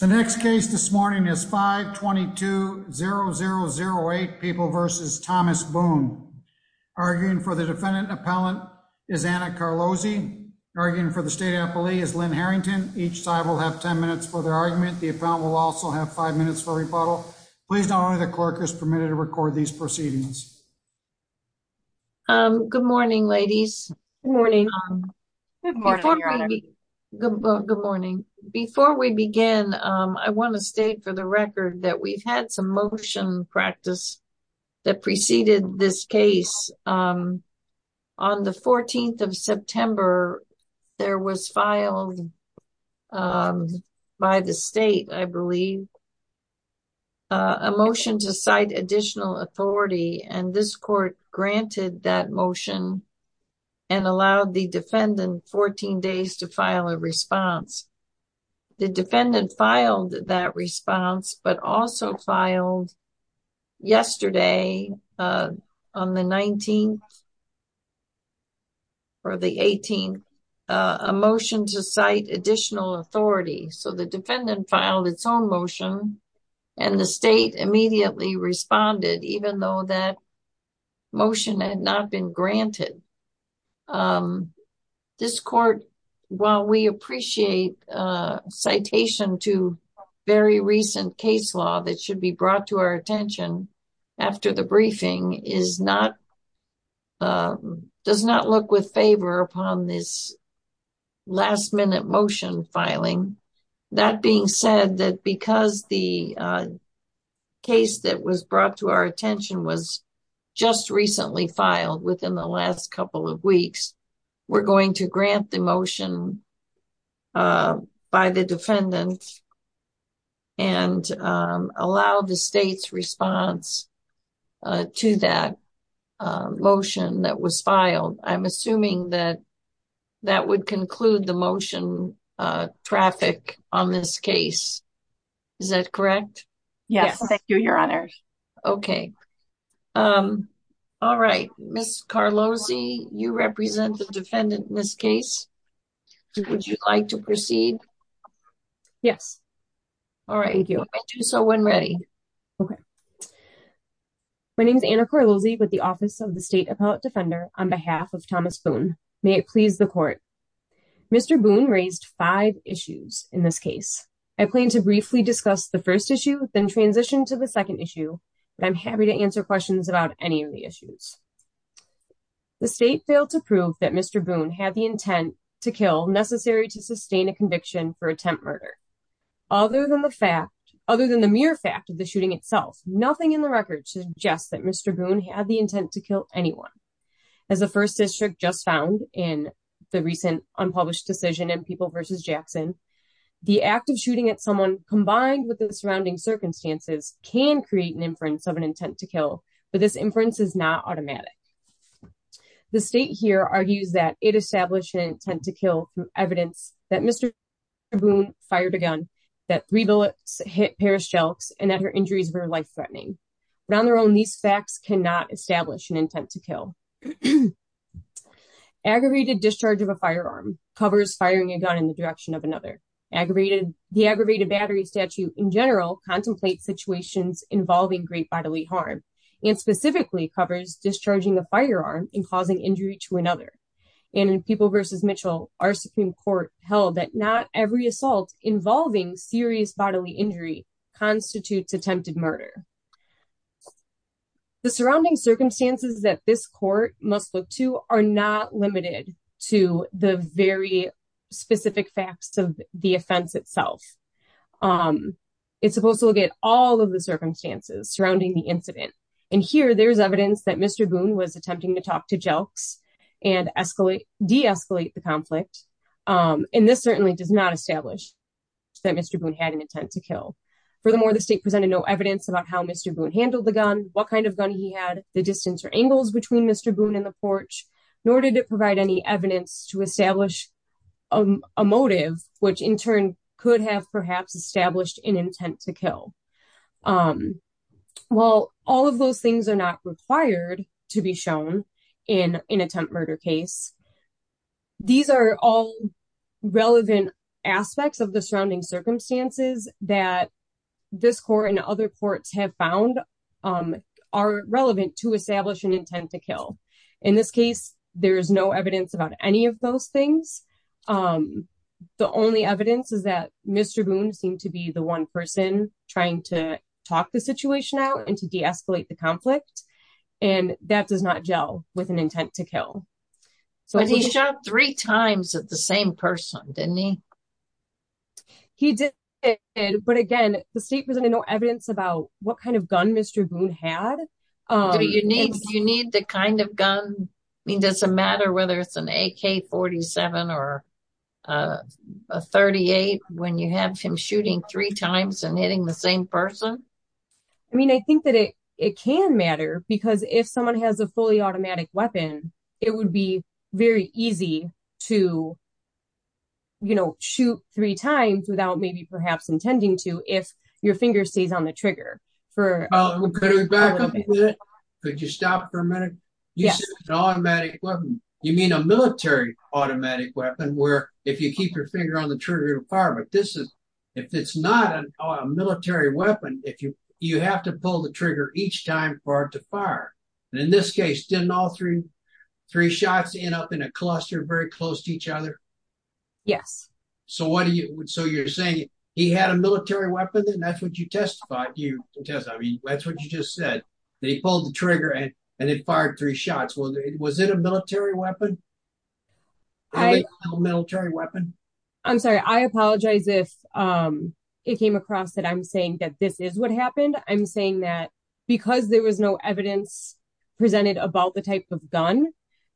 The next case this morning is 522-0008 People v. Thomas Boone. Arguing for the defendant and appellant is Anna Carlozzi. Arguing for the state appellee is Lynn Harrington. Each side will have 10 minutes for their argument. The appellant will also have 5 minutes for rebuttal. Please know only the clerk is permitted to record these proceedings. Good morning. Good morning, Your Honor. Good morning. Before we begin, I want to state for the record that we've had some motion practice that preceded this case. On the 14th of September, there was filed by the state, I believe, a motion to cite additional authority. And this court granted that motion and allowed the defendant 14 days to file a response. The defendant filed that response, but also filed yesterday, on the 19th or the 18th, a motion to cite additional authority. So the defendant filed its own motion, and the state immediately responded, even though that motion had not been granted. This court, while we appreciate citation to very recent case law that should be brought to our attention after the briefing, does not look with favor upon this last-minute motion filing. That being said, because the case that was brought to our attention was just recently filed within the last couple of weeks, we're going to grant the motion by the defendant and allow the state's response to that motion that was filed. And I'm assuming that that would conclude the motion traffic on this case. Is that correct? Yes, thank you, Your Honor. Okay. All right. Ms. Carlozzi, you represent the defendant in this case. Would you like to proceed? Yes. All right. You may do so when ready. Okay. My name is Anna Carlozzi with the Office of the State Appellate Defender on behalf of Thomas Boone. May it please the court. Mr. Boone raised five issues in this case. I plan to briefly discuss the first issue, then transition to the second issue, but I'm happy to answer questions about any of the issues. The state failed to prove that Mr. Boone had the intent to kill necessary to sustain a conviction for attempt murder. Other than the mere fact of the shooting itself, nothing in the record suggests that Mr. Boone had the intent to kill anyone. As the first district just found in the recent unpublished decision in People v. Jackson, the act of shooting at someone combined with the surrounding circumstances can create an inference of an intent to kill, but this inference is not automatic. The state here argues that it established an intent to kill evidence that Mr. Boone fired a gun, that three bullets hit Paris Jelks, and that her injuries were life-threatening. But on their own, these facts cannot establish an intent to kill. Aggravated discharge of a firearm covers firing a gun in the direction of another. The aggravated battery statute in general contemplates situations involving great bodily harm and specifically covers discharging a firearm and causing injury to another. In People v. Mitchell, our Supreme Court held that not every assault involving serious bodily injury constitutes attempted murder. The surrounding circumstances that this court must look to are not limited to the very specific facts of the offense itself. It's supposed to look at all of the circumstances surrounding the incident. And here, there's evidence that Mr. Boone was attempting to talk to Jelks and de-escalate the conflict. And this certainly does not establish that Mr. Boone had an intent to kill. Furthermore, the state presented no evidence about how Mr. Boone handled the gun, what kind of gun he had, the distance or angles between Mr. Boone and the porch. Nor did it provide any evidence to establish a motive, which in turn could have perhaps established an intent to kill. While all of those things are not required to be shown in an attempt murder case, these are all relevant aspects of the surrounding circumstances that this court and other courts have found are relevant to establish an intent to kill. In this case, there is no evidence about any of those things. The only evidence is that Mr. Boone seemed to be the one person trying to talk the situation out and to de-escalate the conflict. And that does not gel with an intent to kill. But he shot three times at the same person, didn't he? He did, but again, the state presented no evidence about what kind of gun Mr. Boone had. Do you need the kind of gun? I mean, does it matter whether it's an AK-47 or a .38 when you have him shooting three times and hitting the same person? I mean, I think that it can matter because if someone has a fully automatic weapon, it would be very easy to, you know, shoot three times without maybe perhaps intending to if your finger stays on the trigger for a little bit. Could we back up a little bit? Could you stop for a minute? Yes. You mean a military automatic weapon where if you keep your finger on the trigger to fire, but if it's not a military weapon, you have to pull the trigger each time for it to fire. In this case, didn't all three shots end up in a cluster very close to each other? Yes. So you're saying he had a military weapon and that's what you testified? That's what you just said. They pulled the trigger and it fired three shots. Was it a military weapon? I'm sorry, I apologize if it came across that I'm saying that this is what happened. I'm saying that because there was no evidence presented about the type of gun,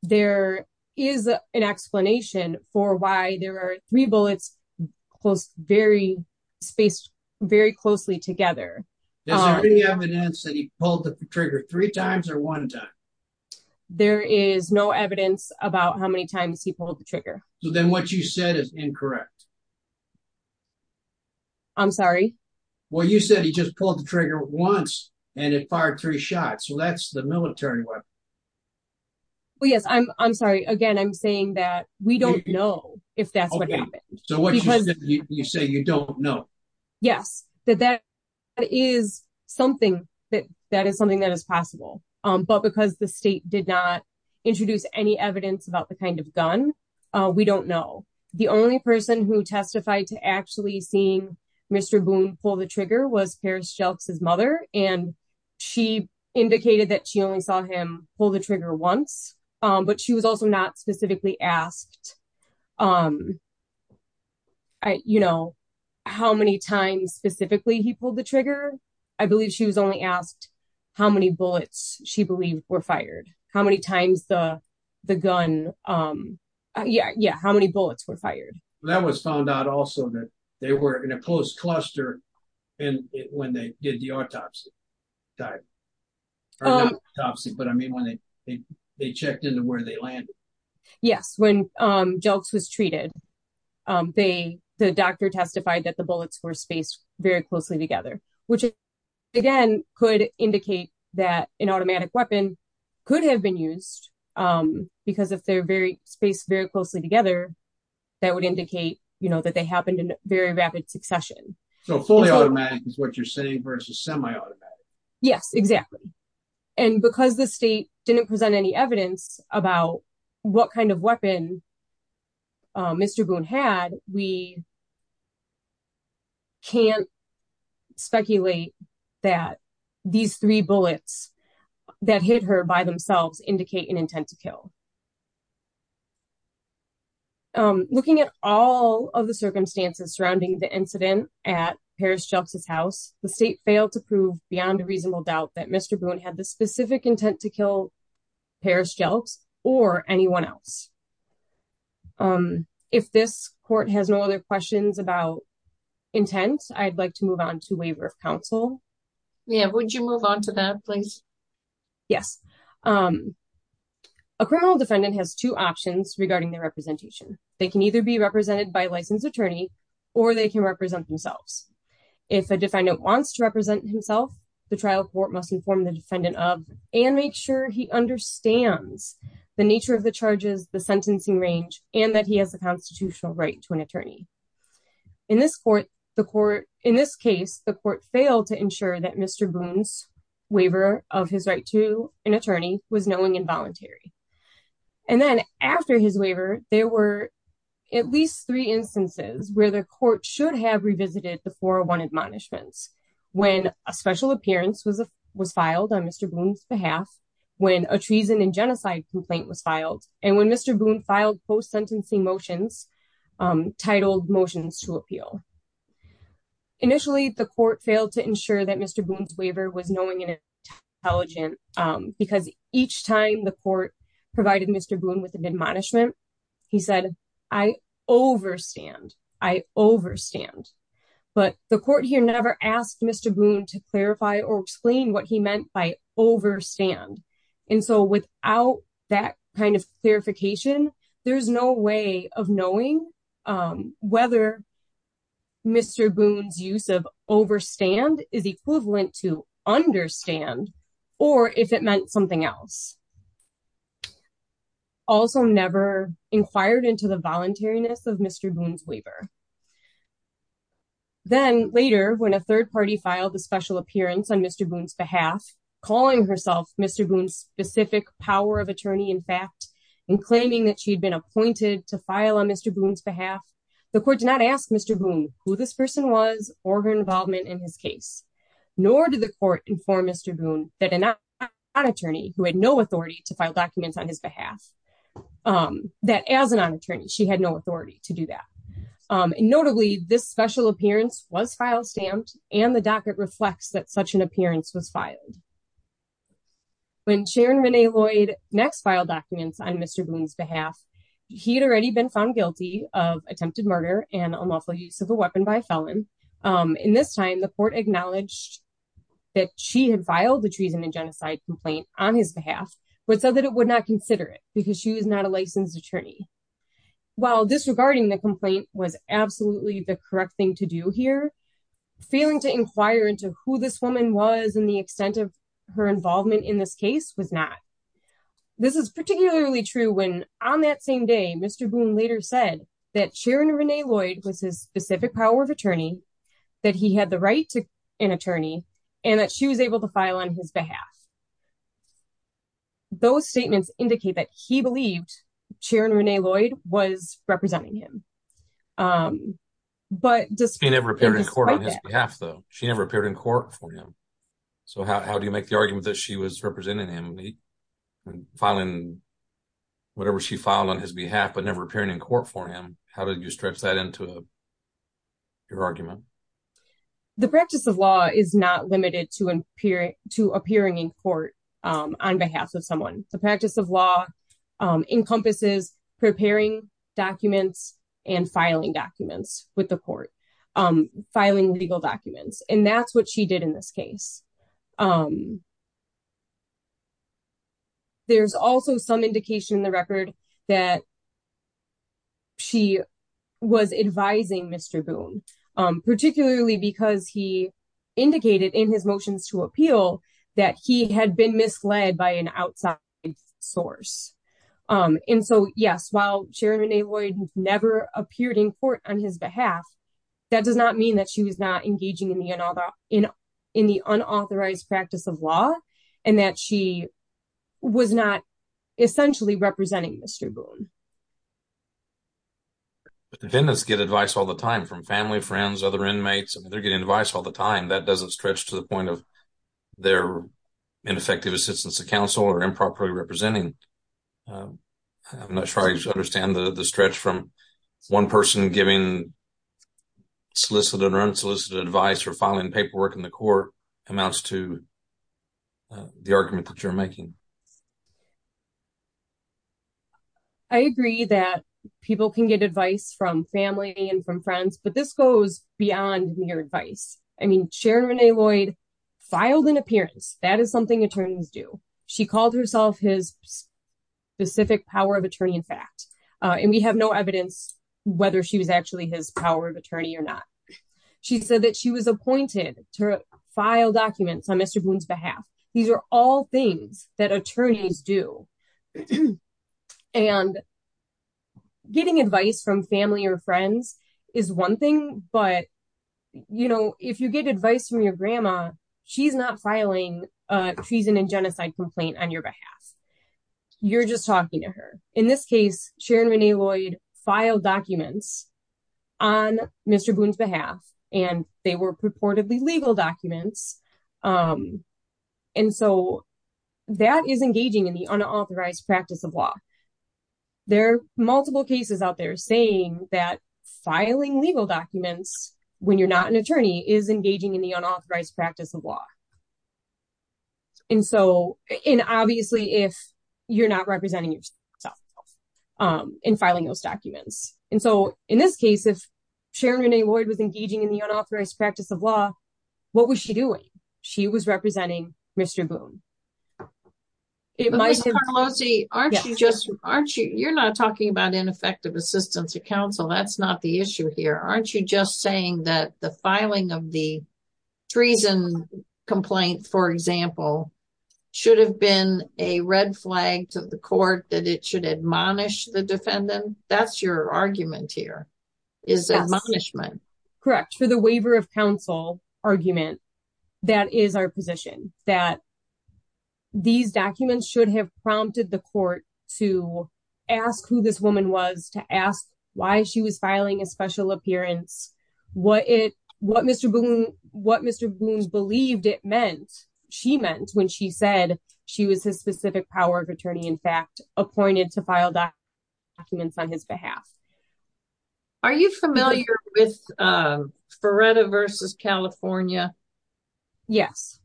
there is an explanation for why there were three bullets very closely together. Is there any evidence that he pulled the trigger three times or one time? There is no evidence about how many times he pulled the trigger. So then what you said is incorrect. I'm sorry? Well, you said he just pulled the trigger once and it fired three shots. So that's the military weapon. Yes, I'm sorry. Again, I'm saying that we don't know if that's what happened. So what you said, you say you don't know. Yes, that is something that is possible. But because the state did not introduce any evidence about the kind of gun, we don't know. The only person who testified to actually seeing Mr. Boone pull the trigger was Paris Jelks' mother, and she indicated that she only saw him pull the trigger once. But she was also not specifically asked how many times specifically he pulled the trigger. I believe she was only asked how many bullets she believed were fired, how many times the gun, yeah, how many bullets were fired. That was found out also that they were in a close cluster when they did the autopsy. But I mean, when they checked into where they landed. Yes, when Jelks was treated, the doctor testified that the bullets were spaced very closely together, which, again, could indicate that an automatic weapon could have been used. Because if they're spaced very closely together, that would indicate, you know, that they happened in very rapid succession. So fully automatic is what you're saying versus semi-automatic. Yes, exactly. And because the state didn't present any evidence about what kind of weapon Mr. Boone had, we can't speculate that these three bullets that hit her by themselves indicate an intent to kill. Looking at all of the circumstances surrounding the incident at Paris Jelks' house, the state failed to prove beyond a reasonable doubt that Mr. Boone had the specific intent to kill Paris Jelks or anyone else. If this court has no other questions about intent, I'd like to move on to waiver of counsel. Yeah, would you move on to that, please? Yes. A criminal defendant has two options regarding their representation. They can either be represented by a licensed attorney or they can represent themselves. If a defendant wants to represent himself, the trial court must inform the defendant of and make sure he understands the nature of the charges, the sentencing range, and that he has a constitutional right to an attorney. In this case, the court failed to ensure that Mr. Boone's waiver of his right to an attorney was knowing and voluntary. And then after his waiver, there were at least three instances where the court should have revisited the 401 admonishments. When a special appearance was filed on Mr. Boone's behalf, when a treason and genocide complaint was filed, and when Mr. Boone filed post-sentencing motions titled Motions to Appeal. Initially, the court failed to ensure that Mr. Boone's waiver was knowing and intelligent because each time the court provided Mr. Boone with an admonishment, he said, I overstand, I overstand. But the court here never asked Mr. Boone to clarify or explain what he meant by overstand. And so without that kind of clarification, there's no way of knowing whether Mr. Boone's use of overstand is equivalent to understand or if it meant something else. Also never inquired into the voluntariness of Mr. Boone's waiver. Then later, when a third party filed a special appearance on Mr. Boone's behalf, calling herself Mr. Boone's specific power of attorney in fact, and claiming that she'd been appointed to file on Mr. Boone's behalf. The court did not ask Mr. Boone who this person was or her involvement in his case, nor did the court inform Mr. Boone that an non-attorney who had no authority to file documents on his behalf, that as a non-attorney, she had no authority to do that. Notably, this special appearance was file stamped and the docket reflects that such an appearance was filed. When Sharon Renee Lloyd next filed documents on Mr. Boone's behalf, he had already been found guilty of attempted murder and unlawful use of a weapon by a felon. In this time, the court acknowledged that she had filed the treason and genocide complaint on his behalf, but said that it would not consider it because she was not a licensed attorney. While disregarding the complaint was absolutely the correct thing to do here, failing to inquire into who this woman was and the extent of her involvement in this case was not. This is particularly true when on that same day, Mr. Boone later said that Sharon Renee Lloyd was his specific power of attorney, that he had the right to an attorney, and that she was able to file on his behalf. Those statements indicate that he believed Sharon Renee Lloyd was representing him. She never appeared in court on his behalf, though. She never appeared in court for him. So how do you make the argument that she was representing him, filing whatever she filed on his behalf, but never appearing in court for him? How did you stretch that into your argument? The practice of law is not limited to appearing in court on behalf of someone. The practice of law encompasses preparing documents and filing documents with the court, filing legal documents. And that's what she did in this case. There's also some indication in the record that she was advising Mr. Boone, particularly because he indicated in his motions to appeal that he had been misled by an outside source. And so, yes, while Sharon Renee Lloyd never appeared in court on his behalf, that does not mean that she was not engaging in the unauthorized practice of law and that she was not essentially representing Mr. Boone. Dependents get advice all the time from family, friends, other inmates. They're getting advice all the time. That doesn't stretch to the point of their ineffective assistance to counsel or improperly representing. I'm not sure I understand the stretch from one person giving solicited or unsolicited advice or filing paperwork in the court amounts to the argument that you're making. I agree that people can get advice from family and from friends, but this goes beyond mere advice. I mean, Sharon Renee Lloyd filed an appearance. That is something attorneys do. She called herself his specific power of attorney, in fact, and we have no evidence whether she was actually his power of attorney or not. She said that she was appointed to file documents on Mr. Boone's behalf. These are all things that attorneys do, and getting advice from family or friends is one thing. But, you know, if you get advice from your grandma, she's not filing a treason and genocide complaint on your behalf. You're just talking to her. In this case, Sharon Renee Lloyd filed documents on Mr. Boone's behalf, and they were purportedly legal documents. And so that is engaging in the unauthorized practice of law. There are multiple cases out there saying that filing legal documents when you're not an attorney is engaging in the unauthorized practice of law. And obviously, if you're not representing yourself in filing those documents. And so in this case, if Sharon Renee Lloyd was engaging in the unauthorized practice of law, what was she doing? She was representing Mr. Boone. Carlosi, you're not talking about ineffective assistance of counsel. That's not the issue here. Aren't you just saying that the filing of the treason complaint, for example, should have been a red flag to the court that it should admonish the defendant? That's your argument here, is admonishment. Correct. For the waiver of counsel argument, that is our position that these documents should have prompted the court to ask who this woman was to ask why she was filing a special appearance. What it what Mr. Boone what Mr. Boone's believed it meant she meant when she said she was his specific power of attorney, in fact, appointed to file documents on his behalf. Are you familiar with Feretta versus California? Yes.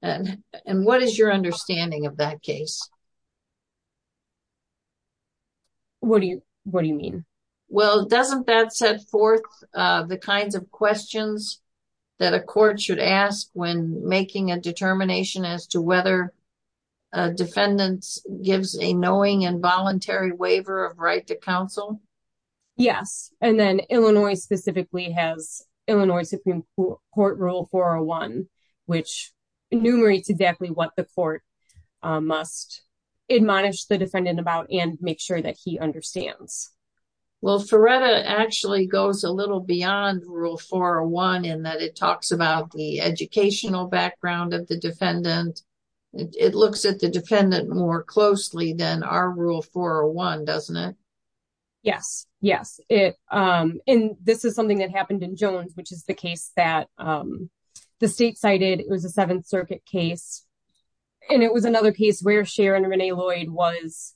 And what is your understanding of that case? What do you what do you mean? Well, doesn't that set forth the kinds of questions that a court should ask when making a determination as to whether defendants gives a knowing and voluntary waiver of right to counsel? Yes. And then Illinois specifically has Illinois Supreme Court Rule 401, which enumerates exactly what the court must admonish the defendant about and make sure that he understands. Well, Feretta actually goes a little beyond Rule 401 in that it talks about the educational background of the defendant. It looks at the defendant more closely than our Rule 401, doesn't it? Yes. Yes. It. And this is something that happened in Jones, which is the case that the state cited. It was a Seventh Circuit case. And it was another case where Sharon Renee Lloyd was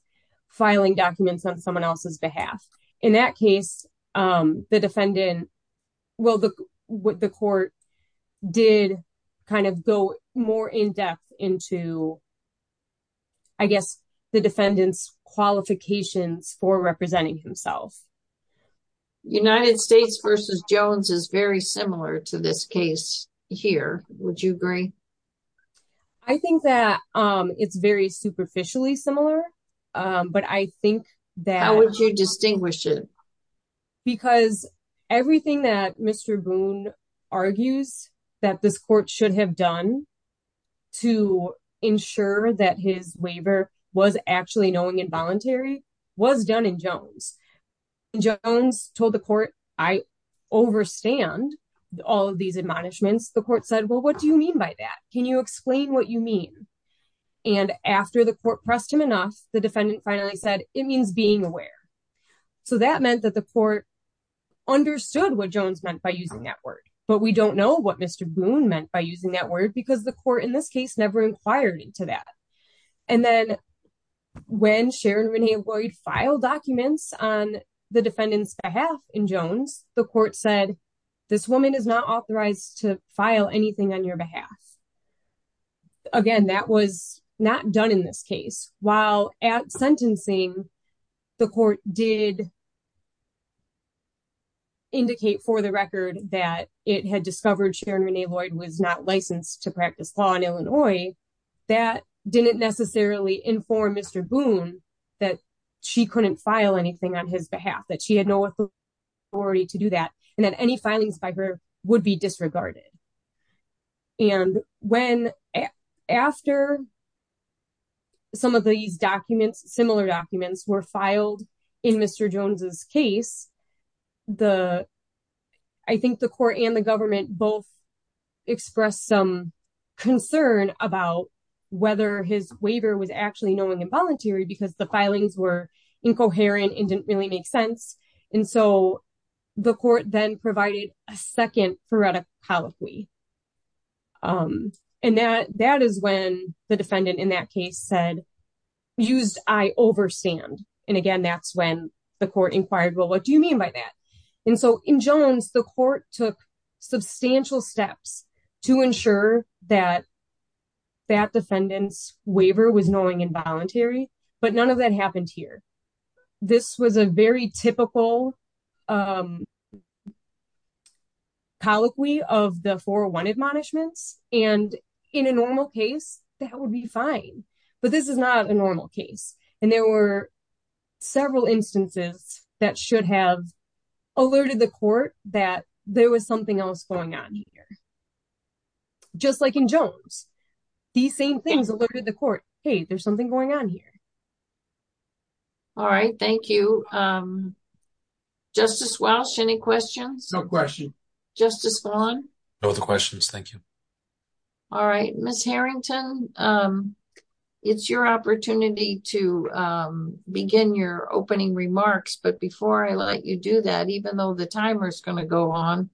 filing documents on someone else's behalf. In that case, the defendant, well, the court did kind of go more in depth into, I guess, the defendant's qualifications for representing himself. United States versus Jones is very similar to this case here. Would you agree? I think that it's very superficially similar, but I think that... How would you distinguish it? Because everything that Mr. Boone argues that this court should have done to ensure that his waiver was actually knowing and voluntary was done in Jones. Jones told the court, I overstand all of these admonishments. The court said, well, what do you mean by that? Can you explain what you mean? And after the court pressed him enough, the defendant finally said, it means being aware. So that meant that the court understood what Jones meant by using that word. But we don't know what Mr. Boone meant by using that word because the court in this case never inquired into that. And then when Sharon Renee Lloyd filed documents on the defendant's behalf in Jones, the court said, this woman is not authorized to file anything on your behalf. Again, that was not done in this case. While at sentencing, the court did indicate for the record that it had discovered Sharon Renee Lloyd was not licensed to practice law in Illinois. That didn't necessarily inform Mr. Boone that she couldn't file anything on his behalf, that she had no authority to do that, and that any filings by her would be disregarded. And when after some of these documents, similar documents were filed in Mr. Jones's case, I think the court and the government both expressed some concern about whether his waiver was actually knowing and voluntary because the filings were incoherent and didn't really make sense. And so the court then provided a second phoretic colloquy. And that is when the defendant in that case said, used I overstand. And again, that's when the court inquired, well, what do you mean by that? And so in Jones, the court took substantial steps to ensure that that defendant's waiver was knowing and voluntary, but none of that happened here. This was a very typical colloquy of the 401 admonishments, and in a normal case, that would be fine. But this is not a normal case, and there were several instances that should have alerted the court that there was something else going on here. Just like in Jones, these same things alerted the court, hey, there's something going on here. All right, thank you. Justice Walsh, any questions? No questions. Justice Vaughn? No questions, thank you. All right, Ms. Harrington, it's your opportunity to begin your opening remarks. But before I let you do that, even though the timer is going to go on,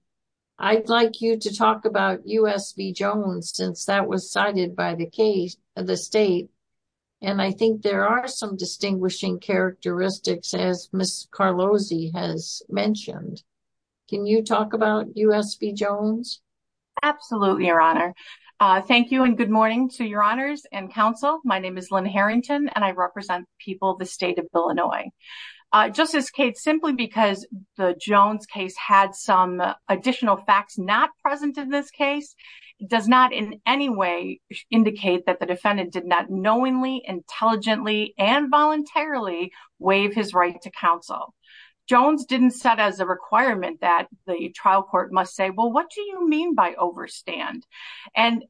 I'd like you to talk about U.S. v. Jones, since that was cited by the state. And I think there are some distinguishing characteristics, as Ms. Carlozzi has mentioned. Can you talk about U.S. v. Jones? Absolutely, Your Honor. Thank you, and good morning to Your Honors and counsel. My name is Lynn Harrington, and I represent the people of the state of Illinois. Justice Cates, simply because the Jones case had some additional facts not present in this case, does not in any way indicate that the defendant did not knowingly, intelligently, and voluntarily waive his right to counsel. Jones didn't set as a requirement that the trial court must say, well, what do you mean by overstand? And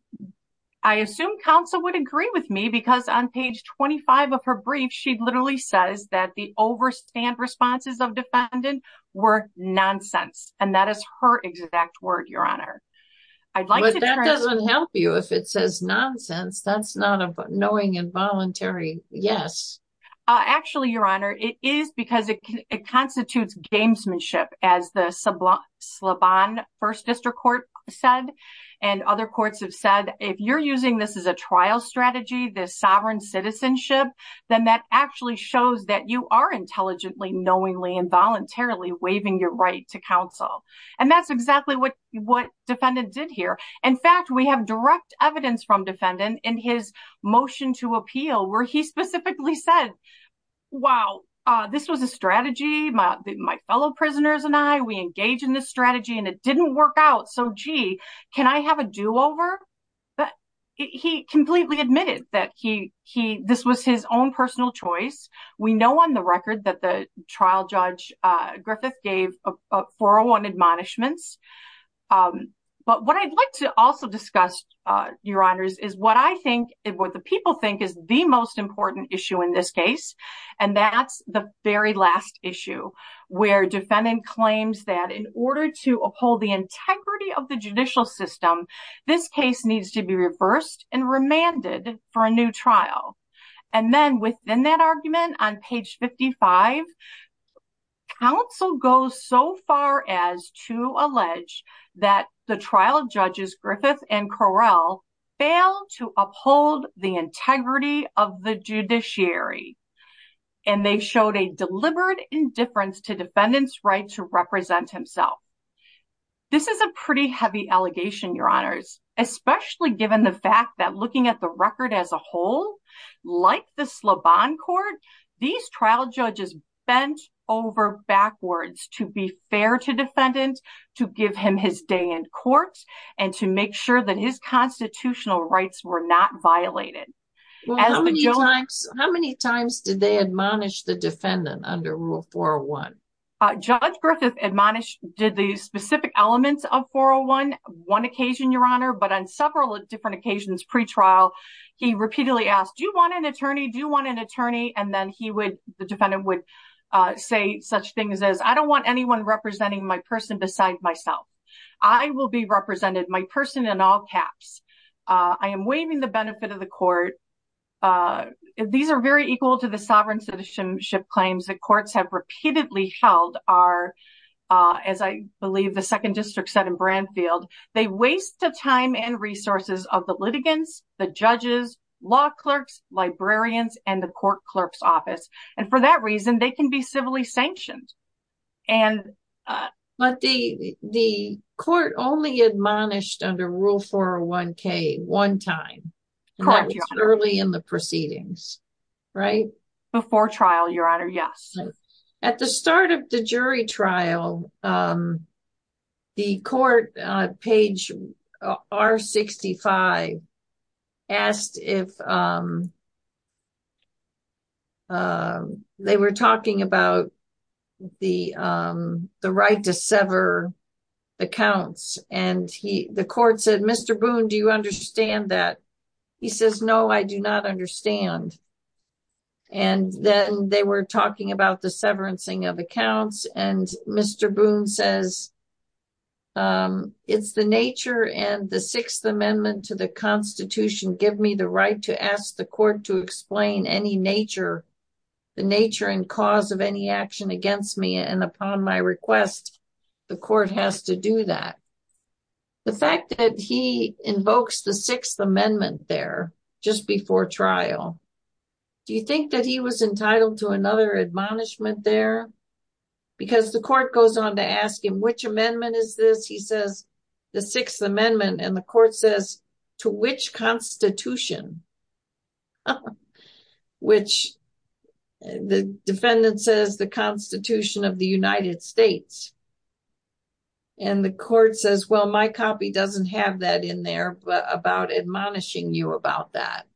I assume counsel would agree with me, because on page 25 of her brief, she literally says that the overstand responses of defendant were nonsense. And that is her exact word, Your Honor. But that doesn't help you. If it says nonsense, that's not a knowing and voluntary yes. Actually, Your Honor, it is because it constitutes gamesmanship, as the Slabon First District Court said. And other courts have said, if you're using this as a trial strategy, this sovereign citizenship, then that actually shows that you are intelligently, knowingly, and voluntarily waiving your right to counsel. And that's exactly what defendant did here. In fact, we have direct evidence from defendant in his motion to appeal, where he specifically said, wow, this was a strategy. My fellow prisoners and I, we engage in this strategy, and it didn't work out. So, gee, can I have a do over? But he completely admitted that this was his own personal choice. We know on the record that the trial judge Griffith gave a 401 admonishments. But what I'd like to also discuss, Your Honors, is what I think, what the people think is the most important issue in this case. And that's the very last issue, where defendant claims that in order to uphold the integrity of the judicial system, this case needs to be reversed and remanded for a new trial. And then within that argument, on page 55, counsel goes so far as to allege that the trial judges Griffith and Correll failed to uphold the integrity of the judiciary. And they showed a deliberate indifference to defendant's right to represent himself. This is a pretty heavy allegation, Your Honors, especially given the fact that looking at the record as a whole, like the Slobon Court, these trial judges bent over backwards to be fair to defendant, to give him his day in court and to make sure that his constitutional rights were not violated. How many times did they admonish the defendant under Rule 401? Judge Griffith admonished, did the specific elements of 401 one occasion, Your Honor, but on several different occasions pre-trial, he repeatedly asked, do you want an attorney? Do you want an attorney? And then he would, the defendant would say such things as, I don't want anyone representing my person besides myself. I will be represented, my person in all caps. I am waiving the benefit of the court. These are very equal to the sovereign citizenship claims that courts have repeatedly held are, as I believe the second district said in Branfield, they waste the time and resources of the litigants, the judges, law clerks, librarians, and the court clerk's office. And for that reason, they can be civilly sanctioned. But the court only admonished under Rule 401k one time, early in the proceedings, right? Before trial, Your Honor, yes. At the start of the jury trial, the court, page R65, asked if they were talking about the right to sever accounts. And the court said, Mr. Boone, do you understand that? He says, no, I do not understand. And then they were talking about the severancing of accounts. And Mr. Boone says, it's the nature and the Sixth Amendment to the Constitution give me the right to ask the court to explain any nature, the nature and cause of any action against me. And upon my request, the court has to do that. The fact that he invokes the Sixth Amendment there just before trial, do you think that he was entitled to another admonishment there? Because the court goes on to ask him, which amendment is this? He says, the Sixth Amendment. And the court says, to which constitution? Which the defendant says the Constitution of the United States. And the court says, well, my copy doesn't have that in there, but about admonishing you about that.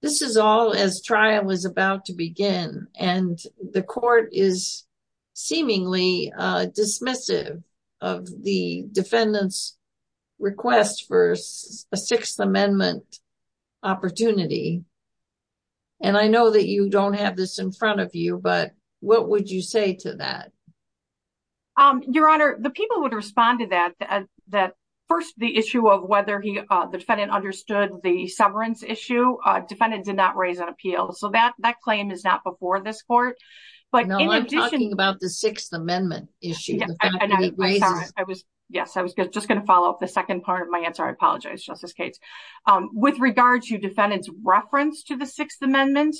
This is all as trial was about to begin, and the court is seemingly dismissive of the defendant's request for a Sixth Amendment opportunity. And I know that you don't have this in front of you, but what would you say to that? Your Honor, the people would respond to that. That first, the issue of whether the defendant understood the severance issue. Defendant did not raise an appeal. So that claim is not before this court. I'm talking about the Sixth Amendment issue. Yes, I was just going to follow up the second part of my answer. I apologize, Justice Cates. With regard to defendant's reference to the Sixth Amendment,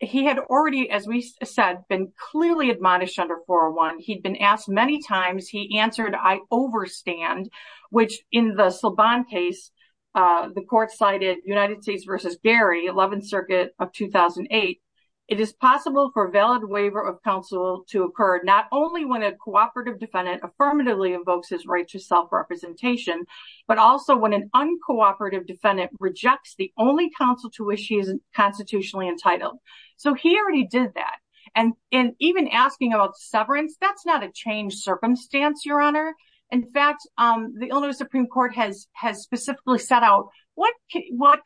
he had already, as we said, been clearly admonished under 401. He'd been asked many times. He answered, I overstand, which in the Silbon case, the court cited United States v. Gary, 11th Circuit of 2008. It is possible for a valid waiver of counsel to occur not only when a cooperative defendant affirmatively invokes his right to self-representation, but also when an uncooperative defendant rejects the only counsel to which he is constitutionally entitled. So he already did that. And even asking about severance, that's not a changed circumstance, Your Honor. In fact, the Illinois Supreme Court has specifically set out what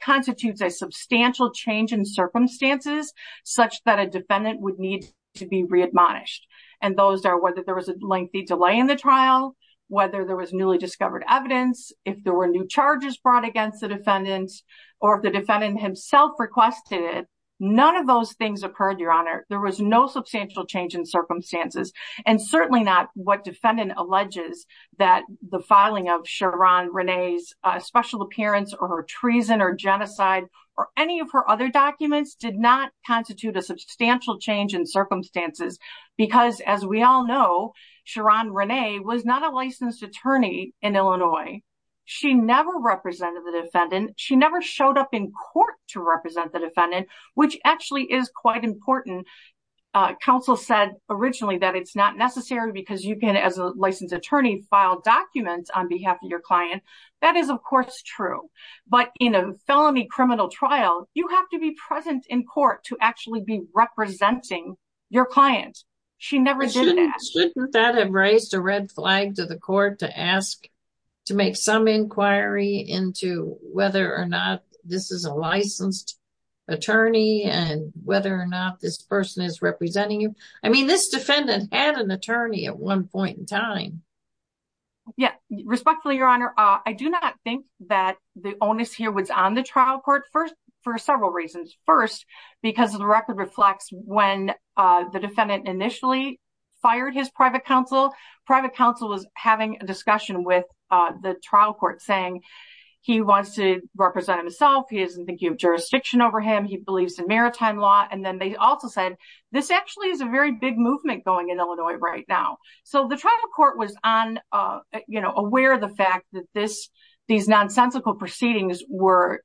constitutes a substantial change in circumstances such that a defendant would need to be readmonished. And those are whether there was a lengthy delay in the trial, whether there was newly discovered evidence, if there were new charges brought against the defendants, or if the defendant himself requested it. None of those things occurred, Your Honor. There was no substantial change in circumstances. And certainly not what defendant alleges that the filing of Sherron Renee's special appearance or her treason or genocide or any of her other documents did not constitute a substantial change in circumstances. Because as we all know, Sherron Renee was not a licensed attorney in Illinois. She never represented the defendant. She never showed up in court to represent the defendant, which actually is quite important. Counsel said originally that it's not necessary because you can, as a licensed attorney, file documents on behalf of your client. That is, of course, true. But in a felony criminal trial, you have to be present in court to actually be representing your client. She never did that. Shouldn't that have raised a red flag to the court to ask, to make some inquiry into whether or not this is a licensed attorney and whether or not this person is representing you? I mean, this defendant had an attorney at one point in time. Yeah, respectfully, Your Honor, I do not think that the onus here was on the trial court for several reasons. First, because the record reflects when the defendant initially fired his private counsel, private counsel was having a discussion with the trial court saying he wants to represent himself. He isn't thinking of jurisdiction over him. He believes in maritime law. And then they also said this actually is a very big movement going in Illinois right now. So the trial court was on, you know, aware of the fact that this, these nonsensical proceedings were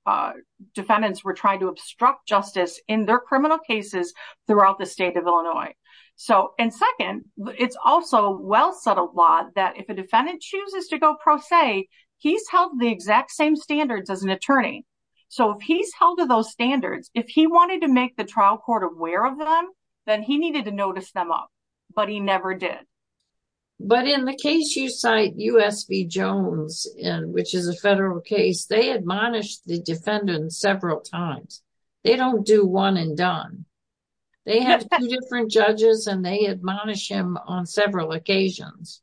defendants were trying to obstruct justice in their criminal cases throughout the state of Illinois. So, and second, it's also well said a lot that if a defendant chooses to go pro se, he's held the exact same standards as an attorney. So if he's held to those standards, if he wanted to make the trial court aware of them, then he needed to notice them up. But he never did. But in the case you cite, U.S. v. Jones, which is a federal case, they admonished the defendant several times. They don't do one and done. They have two different judges and they admonish him on several occasions.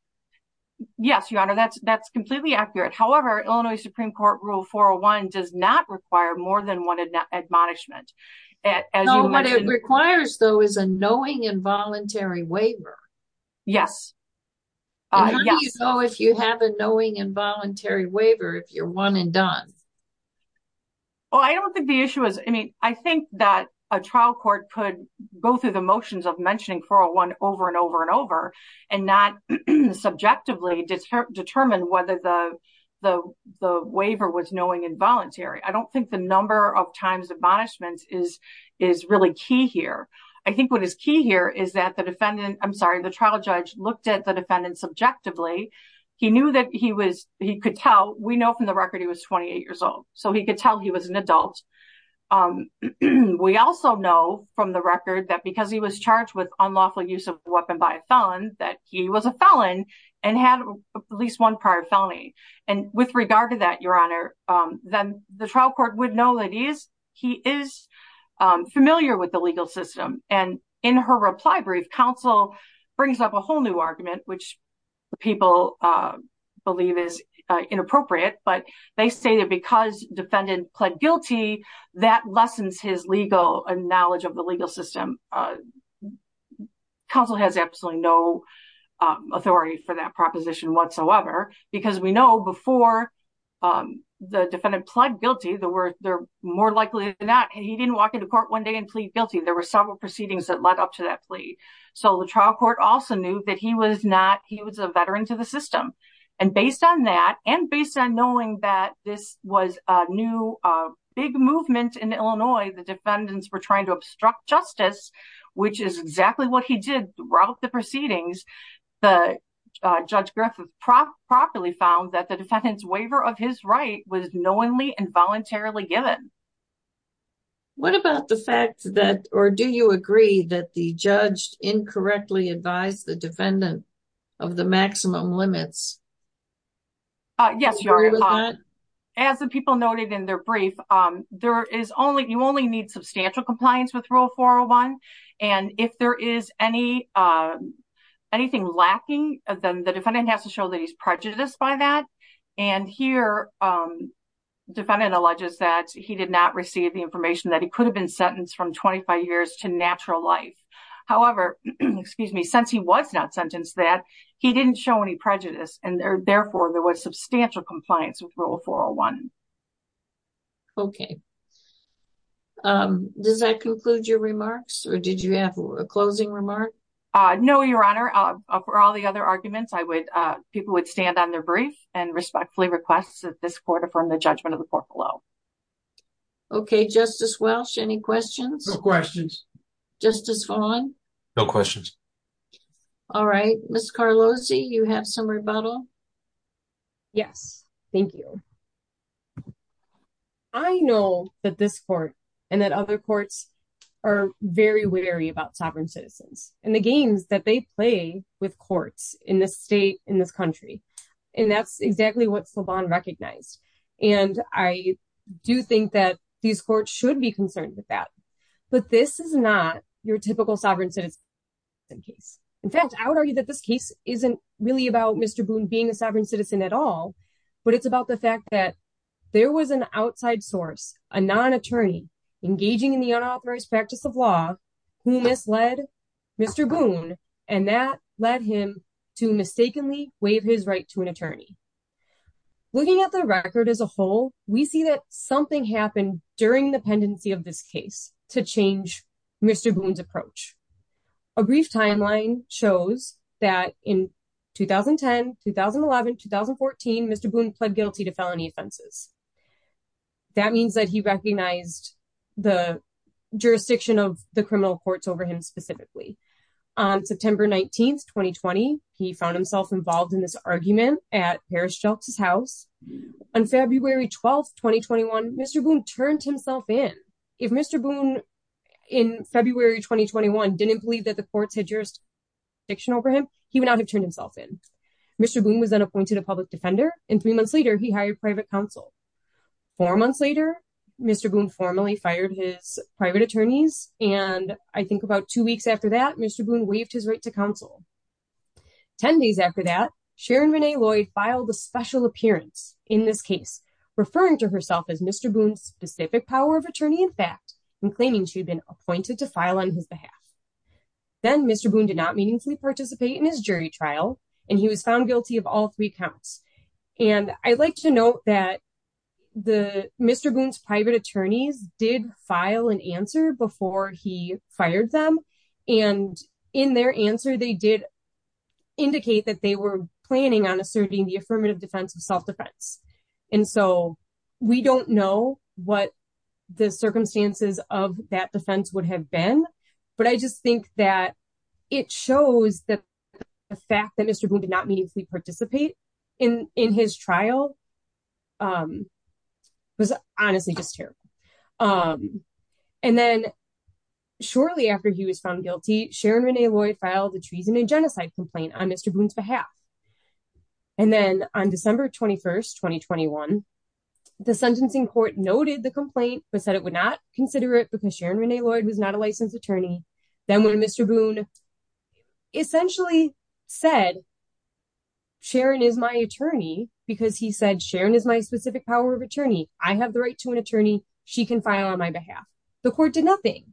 Yes, Your Honor, that's completely accurate. However, Illinois Supreme Court Rule 401 does not require more than one admonishment. What it requires, though, is a knowing involuntary waiver. Yes. How do you know if you have a knowing involuntary waiver if you're one and done? Well, I don't think the issue is, I mean, I think that a trial court could go through the motions of mentioning 401 over and over and over and not subjectively determine whether the waiver was knowing involuntary. I don't think the number of times admonishments is really key here. I think what is key here is that the defendant, I'm sorry, the trial judge looked at the defendant subjectively. He knew that he could tell. We know from the record he was 28 years old, so he could tell he was an adult. We also know from the record that because he was charged with unlawful use of a weapon by a felon, that he was a felon and had at least one prior felony. And with regard to that, Your Honor, then the trial court would know that he is familiar with the legal system. And in her reply brief, counsel brings up a whole new argument, which people believe is inappropriate, but they say that because defendant pled guilty, that lessens his legal knowledge of the legal system. Counsel has absolutely no authority for that proposition whatsoever, because we know before the defendant pled guilty, they're more likely than not, he didn't walk into court one day and plead guilty. There were several proceedings that led up to that plea. So the trial court also knew that he was a veteran to the system. And based on that, and based on knowing that this was a new big movement in Illinois, the defendants were trying to obstruct justice, which is exactly what he did throughout the proceedings. Judge Griffith properly found that the defendant's waiver of his right was knowingly and voluntarily given. What about the fact that, or do you agree that the judge incorrectly advised the defendant of the maximum limits? Yes, Your Honor. As the people noted in their brief, there is only, you only need substantial compliance with Rule 401. And if there is any, anything lacking, then the defendant has to show that he's prejudiced by that. And here, defendant alleges that he did not receive the information that he could have been sentenced from 25 years to natural life. However, excuse me, since he was not sentenced that, he didn't show any prejudice, and therefore there was substantial compliance with Rule 401. Okay. Does that conclude your remarks, or did you have a closing remark? No, Your Honor. For all the other arguments, I would, people would stand on their brief and respectfully request that this court affirm the judgment of the court below. Okay, Justice Welch, any questions? No questions. Justice Vaughn? No questions. All right. Ms. Carlosi, you have some rebuttal? Yes. Thank you. I know that this court and that other courts are very wary about sovereign citizens and the games that they play with courts in this state, in this country. And that's exactly what Slobon recognized. And I do think that these courts should be concerned with that. But this is not your typical sovereign citizen case. In fact, I would argue that this case isn't really about Mr. Boone being a sovereign citizen at all. But it's about the fact that there was an outside source, a non-attorney, engaging in the unauthorized practice of law, who misled Mr. Boone, and that led him to mistakenly waive his right to an attorney. Looking at the record as a whole, we see that something happened during the pendency of this case to change Mr. Boone's approach. A brief timeline shows that in 2010, 2011, 2014, Mr. Boone pled guilty to felony offenses. That means that he recognized the jurisdiction of the criminal courts over him specifically. On September 19, 2020, he found himself involved in this argument at Harris Justice House. On February 12, 2021, Mr. Boone turned himself in. If Mr. Boone, in February 2021, didn't believe that the courts had jurisdiction over him, he would not have turned himself in. Mr. Boone was then appointed a public defender, and three months later, he hired private counsel. Four months later, Mr. Boone formally fired his private attorneys, and I think about two weeks after that, Mr. Boone waived his right to counsel. Ten days after that, Sharon Renee Lloyd filed a special appearance in this case, referring to herself as Mr. Boone's specific power of attorney in fact, and claiming she'd been appointed to file on his behalf. Then, Mr. Boone did not meaningfully participate in his jury trial, and he was found guilty of all three counts. I'd like to note that Mr. Boone's private attorneys did file an answer before he fired them, and in their answer, they did indicate that they were planning on asserting the affirmative defense of self-defense. And so, we don't know what the circumstances of that defense would have been, but I just think that it shows that the fact that Mr. Boone did not meaningfully participate in his trial was honestly just terrible. And then, shortly after he was found guilty, Sharon Renee Lloyd filed a treason and genocide complaint on Mr. Boone's behalf. And then, on December 21st, 2021, the sentencing court noted the complaint, but said it would not consider it because Sharon Renee Lloyd was not a licensed attorney. Then, when Mr. Boone essentially said, Sharon is my attorney, because he said, Sharon is my specific power of attorney, I have the right to an attorney, she can file on my behalf, the court did nothing.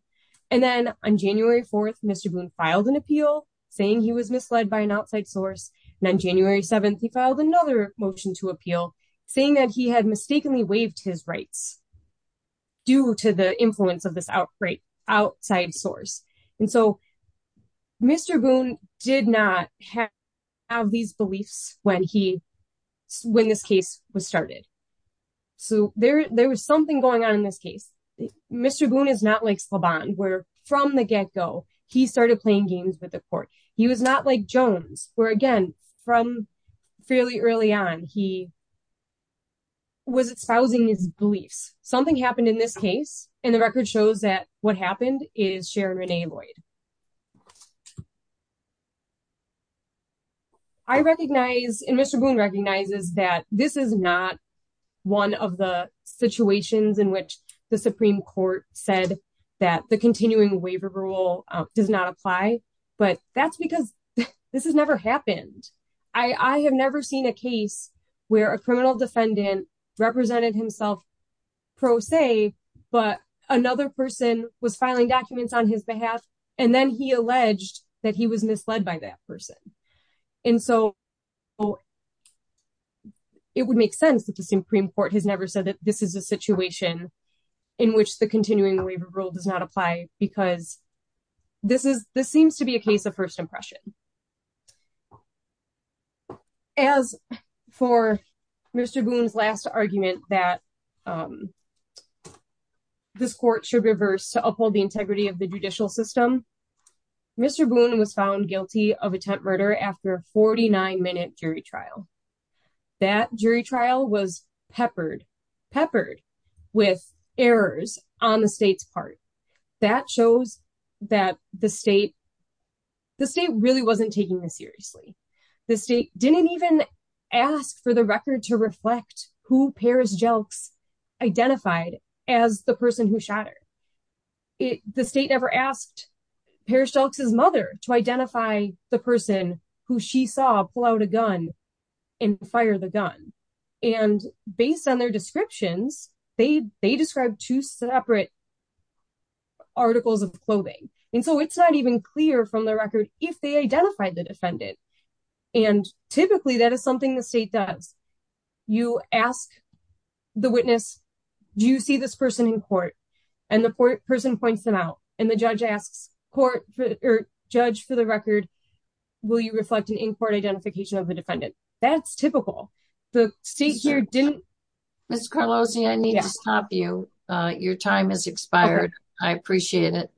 And then, on January 4th, Mr. Boone filed an appeal, saying he was misled by an outside source, and on January 7th, he filed another motion to appeal, saying that he had mistakenly waived his rights due to the influence of this outside source. And so, Mr. Boone did not have these beliefs when this case was started. So, there was something going on in this case. Mr. Boone is not like Slaban, where, from the get-go, he started playing games with the court. He was not like Jones, where, again, from fairly early on, he was espousing his beliefs. Something happened in this case, and the record shows that what happened is Sharon Renee Lloyd. I recognize, and Mr. Boone recognizes, that this is not one of the situations in which the Supreme Court said that the continuing waiver rule does not apply, but that's because this has never happened. I have never seen a case where a criminal defendant represented himself pro se, but another person was filing documents on his behalf, and then he alleged that he was misled by that person. And so, it would make sense that the Supreme Court has never said that this is a situation in which the continuing waiver rule does not apply, because this seems to be a case of first impression. As for Mr. Boone's last argument, that this court should reverse to uphold the integrity of the judicial system, Mr. Boone was found guilty of attempt murder after a 49-minute jury trial. That jury trial was peppered with errors on the state's part. That shows that the state really wasn't taking this seriously. The state didn't even ask for the record to reflect who Paris Jelks identified as the person who shot her. The state never asked Paris Jelks' mother to identify the person who she saw pull out a gun and fire the gun. And based on their descriptions, they described two separate articles of clothing. And so, it's not even clear from the record if they identified the defendant. And typically, that is something the state does. You ask the witness, do you see this person in court? And the person points them out. And the judge asks the judge for the record, will you reflect an in-court identification of the defendant? That's typical. The state here didn't... Ms. Carlosi, I need to stop you. Your time has expired. I appreciate it.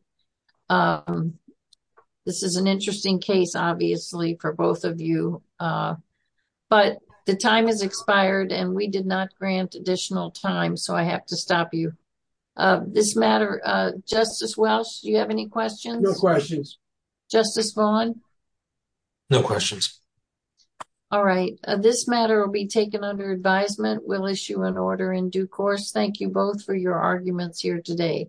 This is an interesting case, obviously, for both of you. But the time has expired, and we did not grant additional time. So, I have to stop you. This matter... Justice Welsh, do you have any questions? No questions. Justice Vaughn? No questions. All right. This matter will be taken under advisement. We'll issue an order in due course. Thank you both for your arguments here today.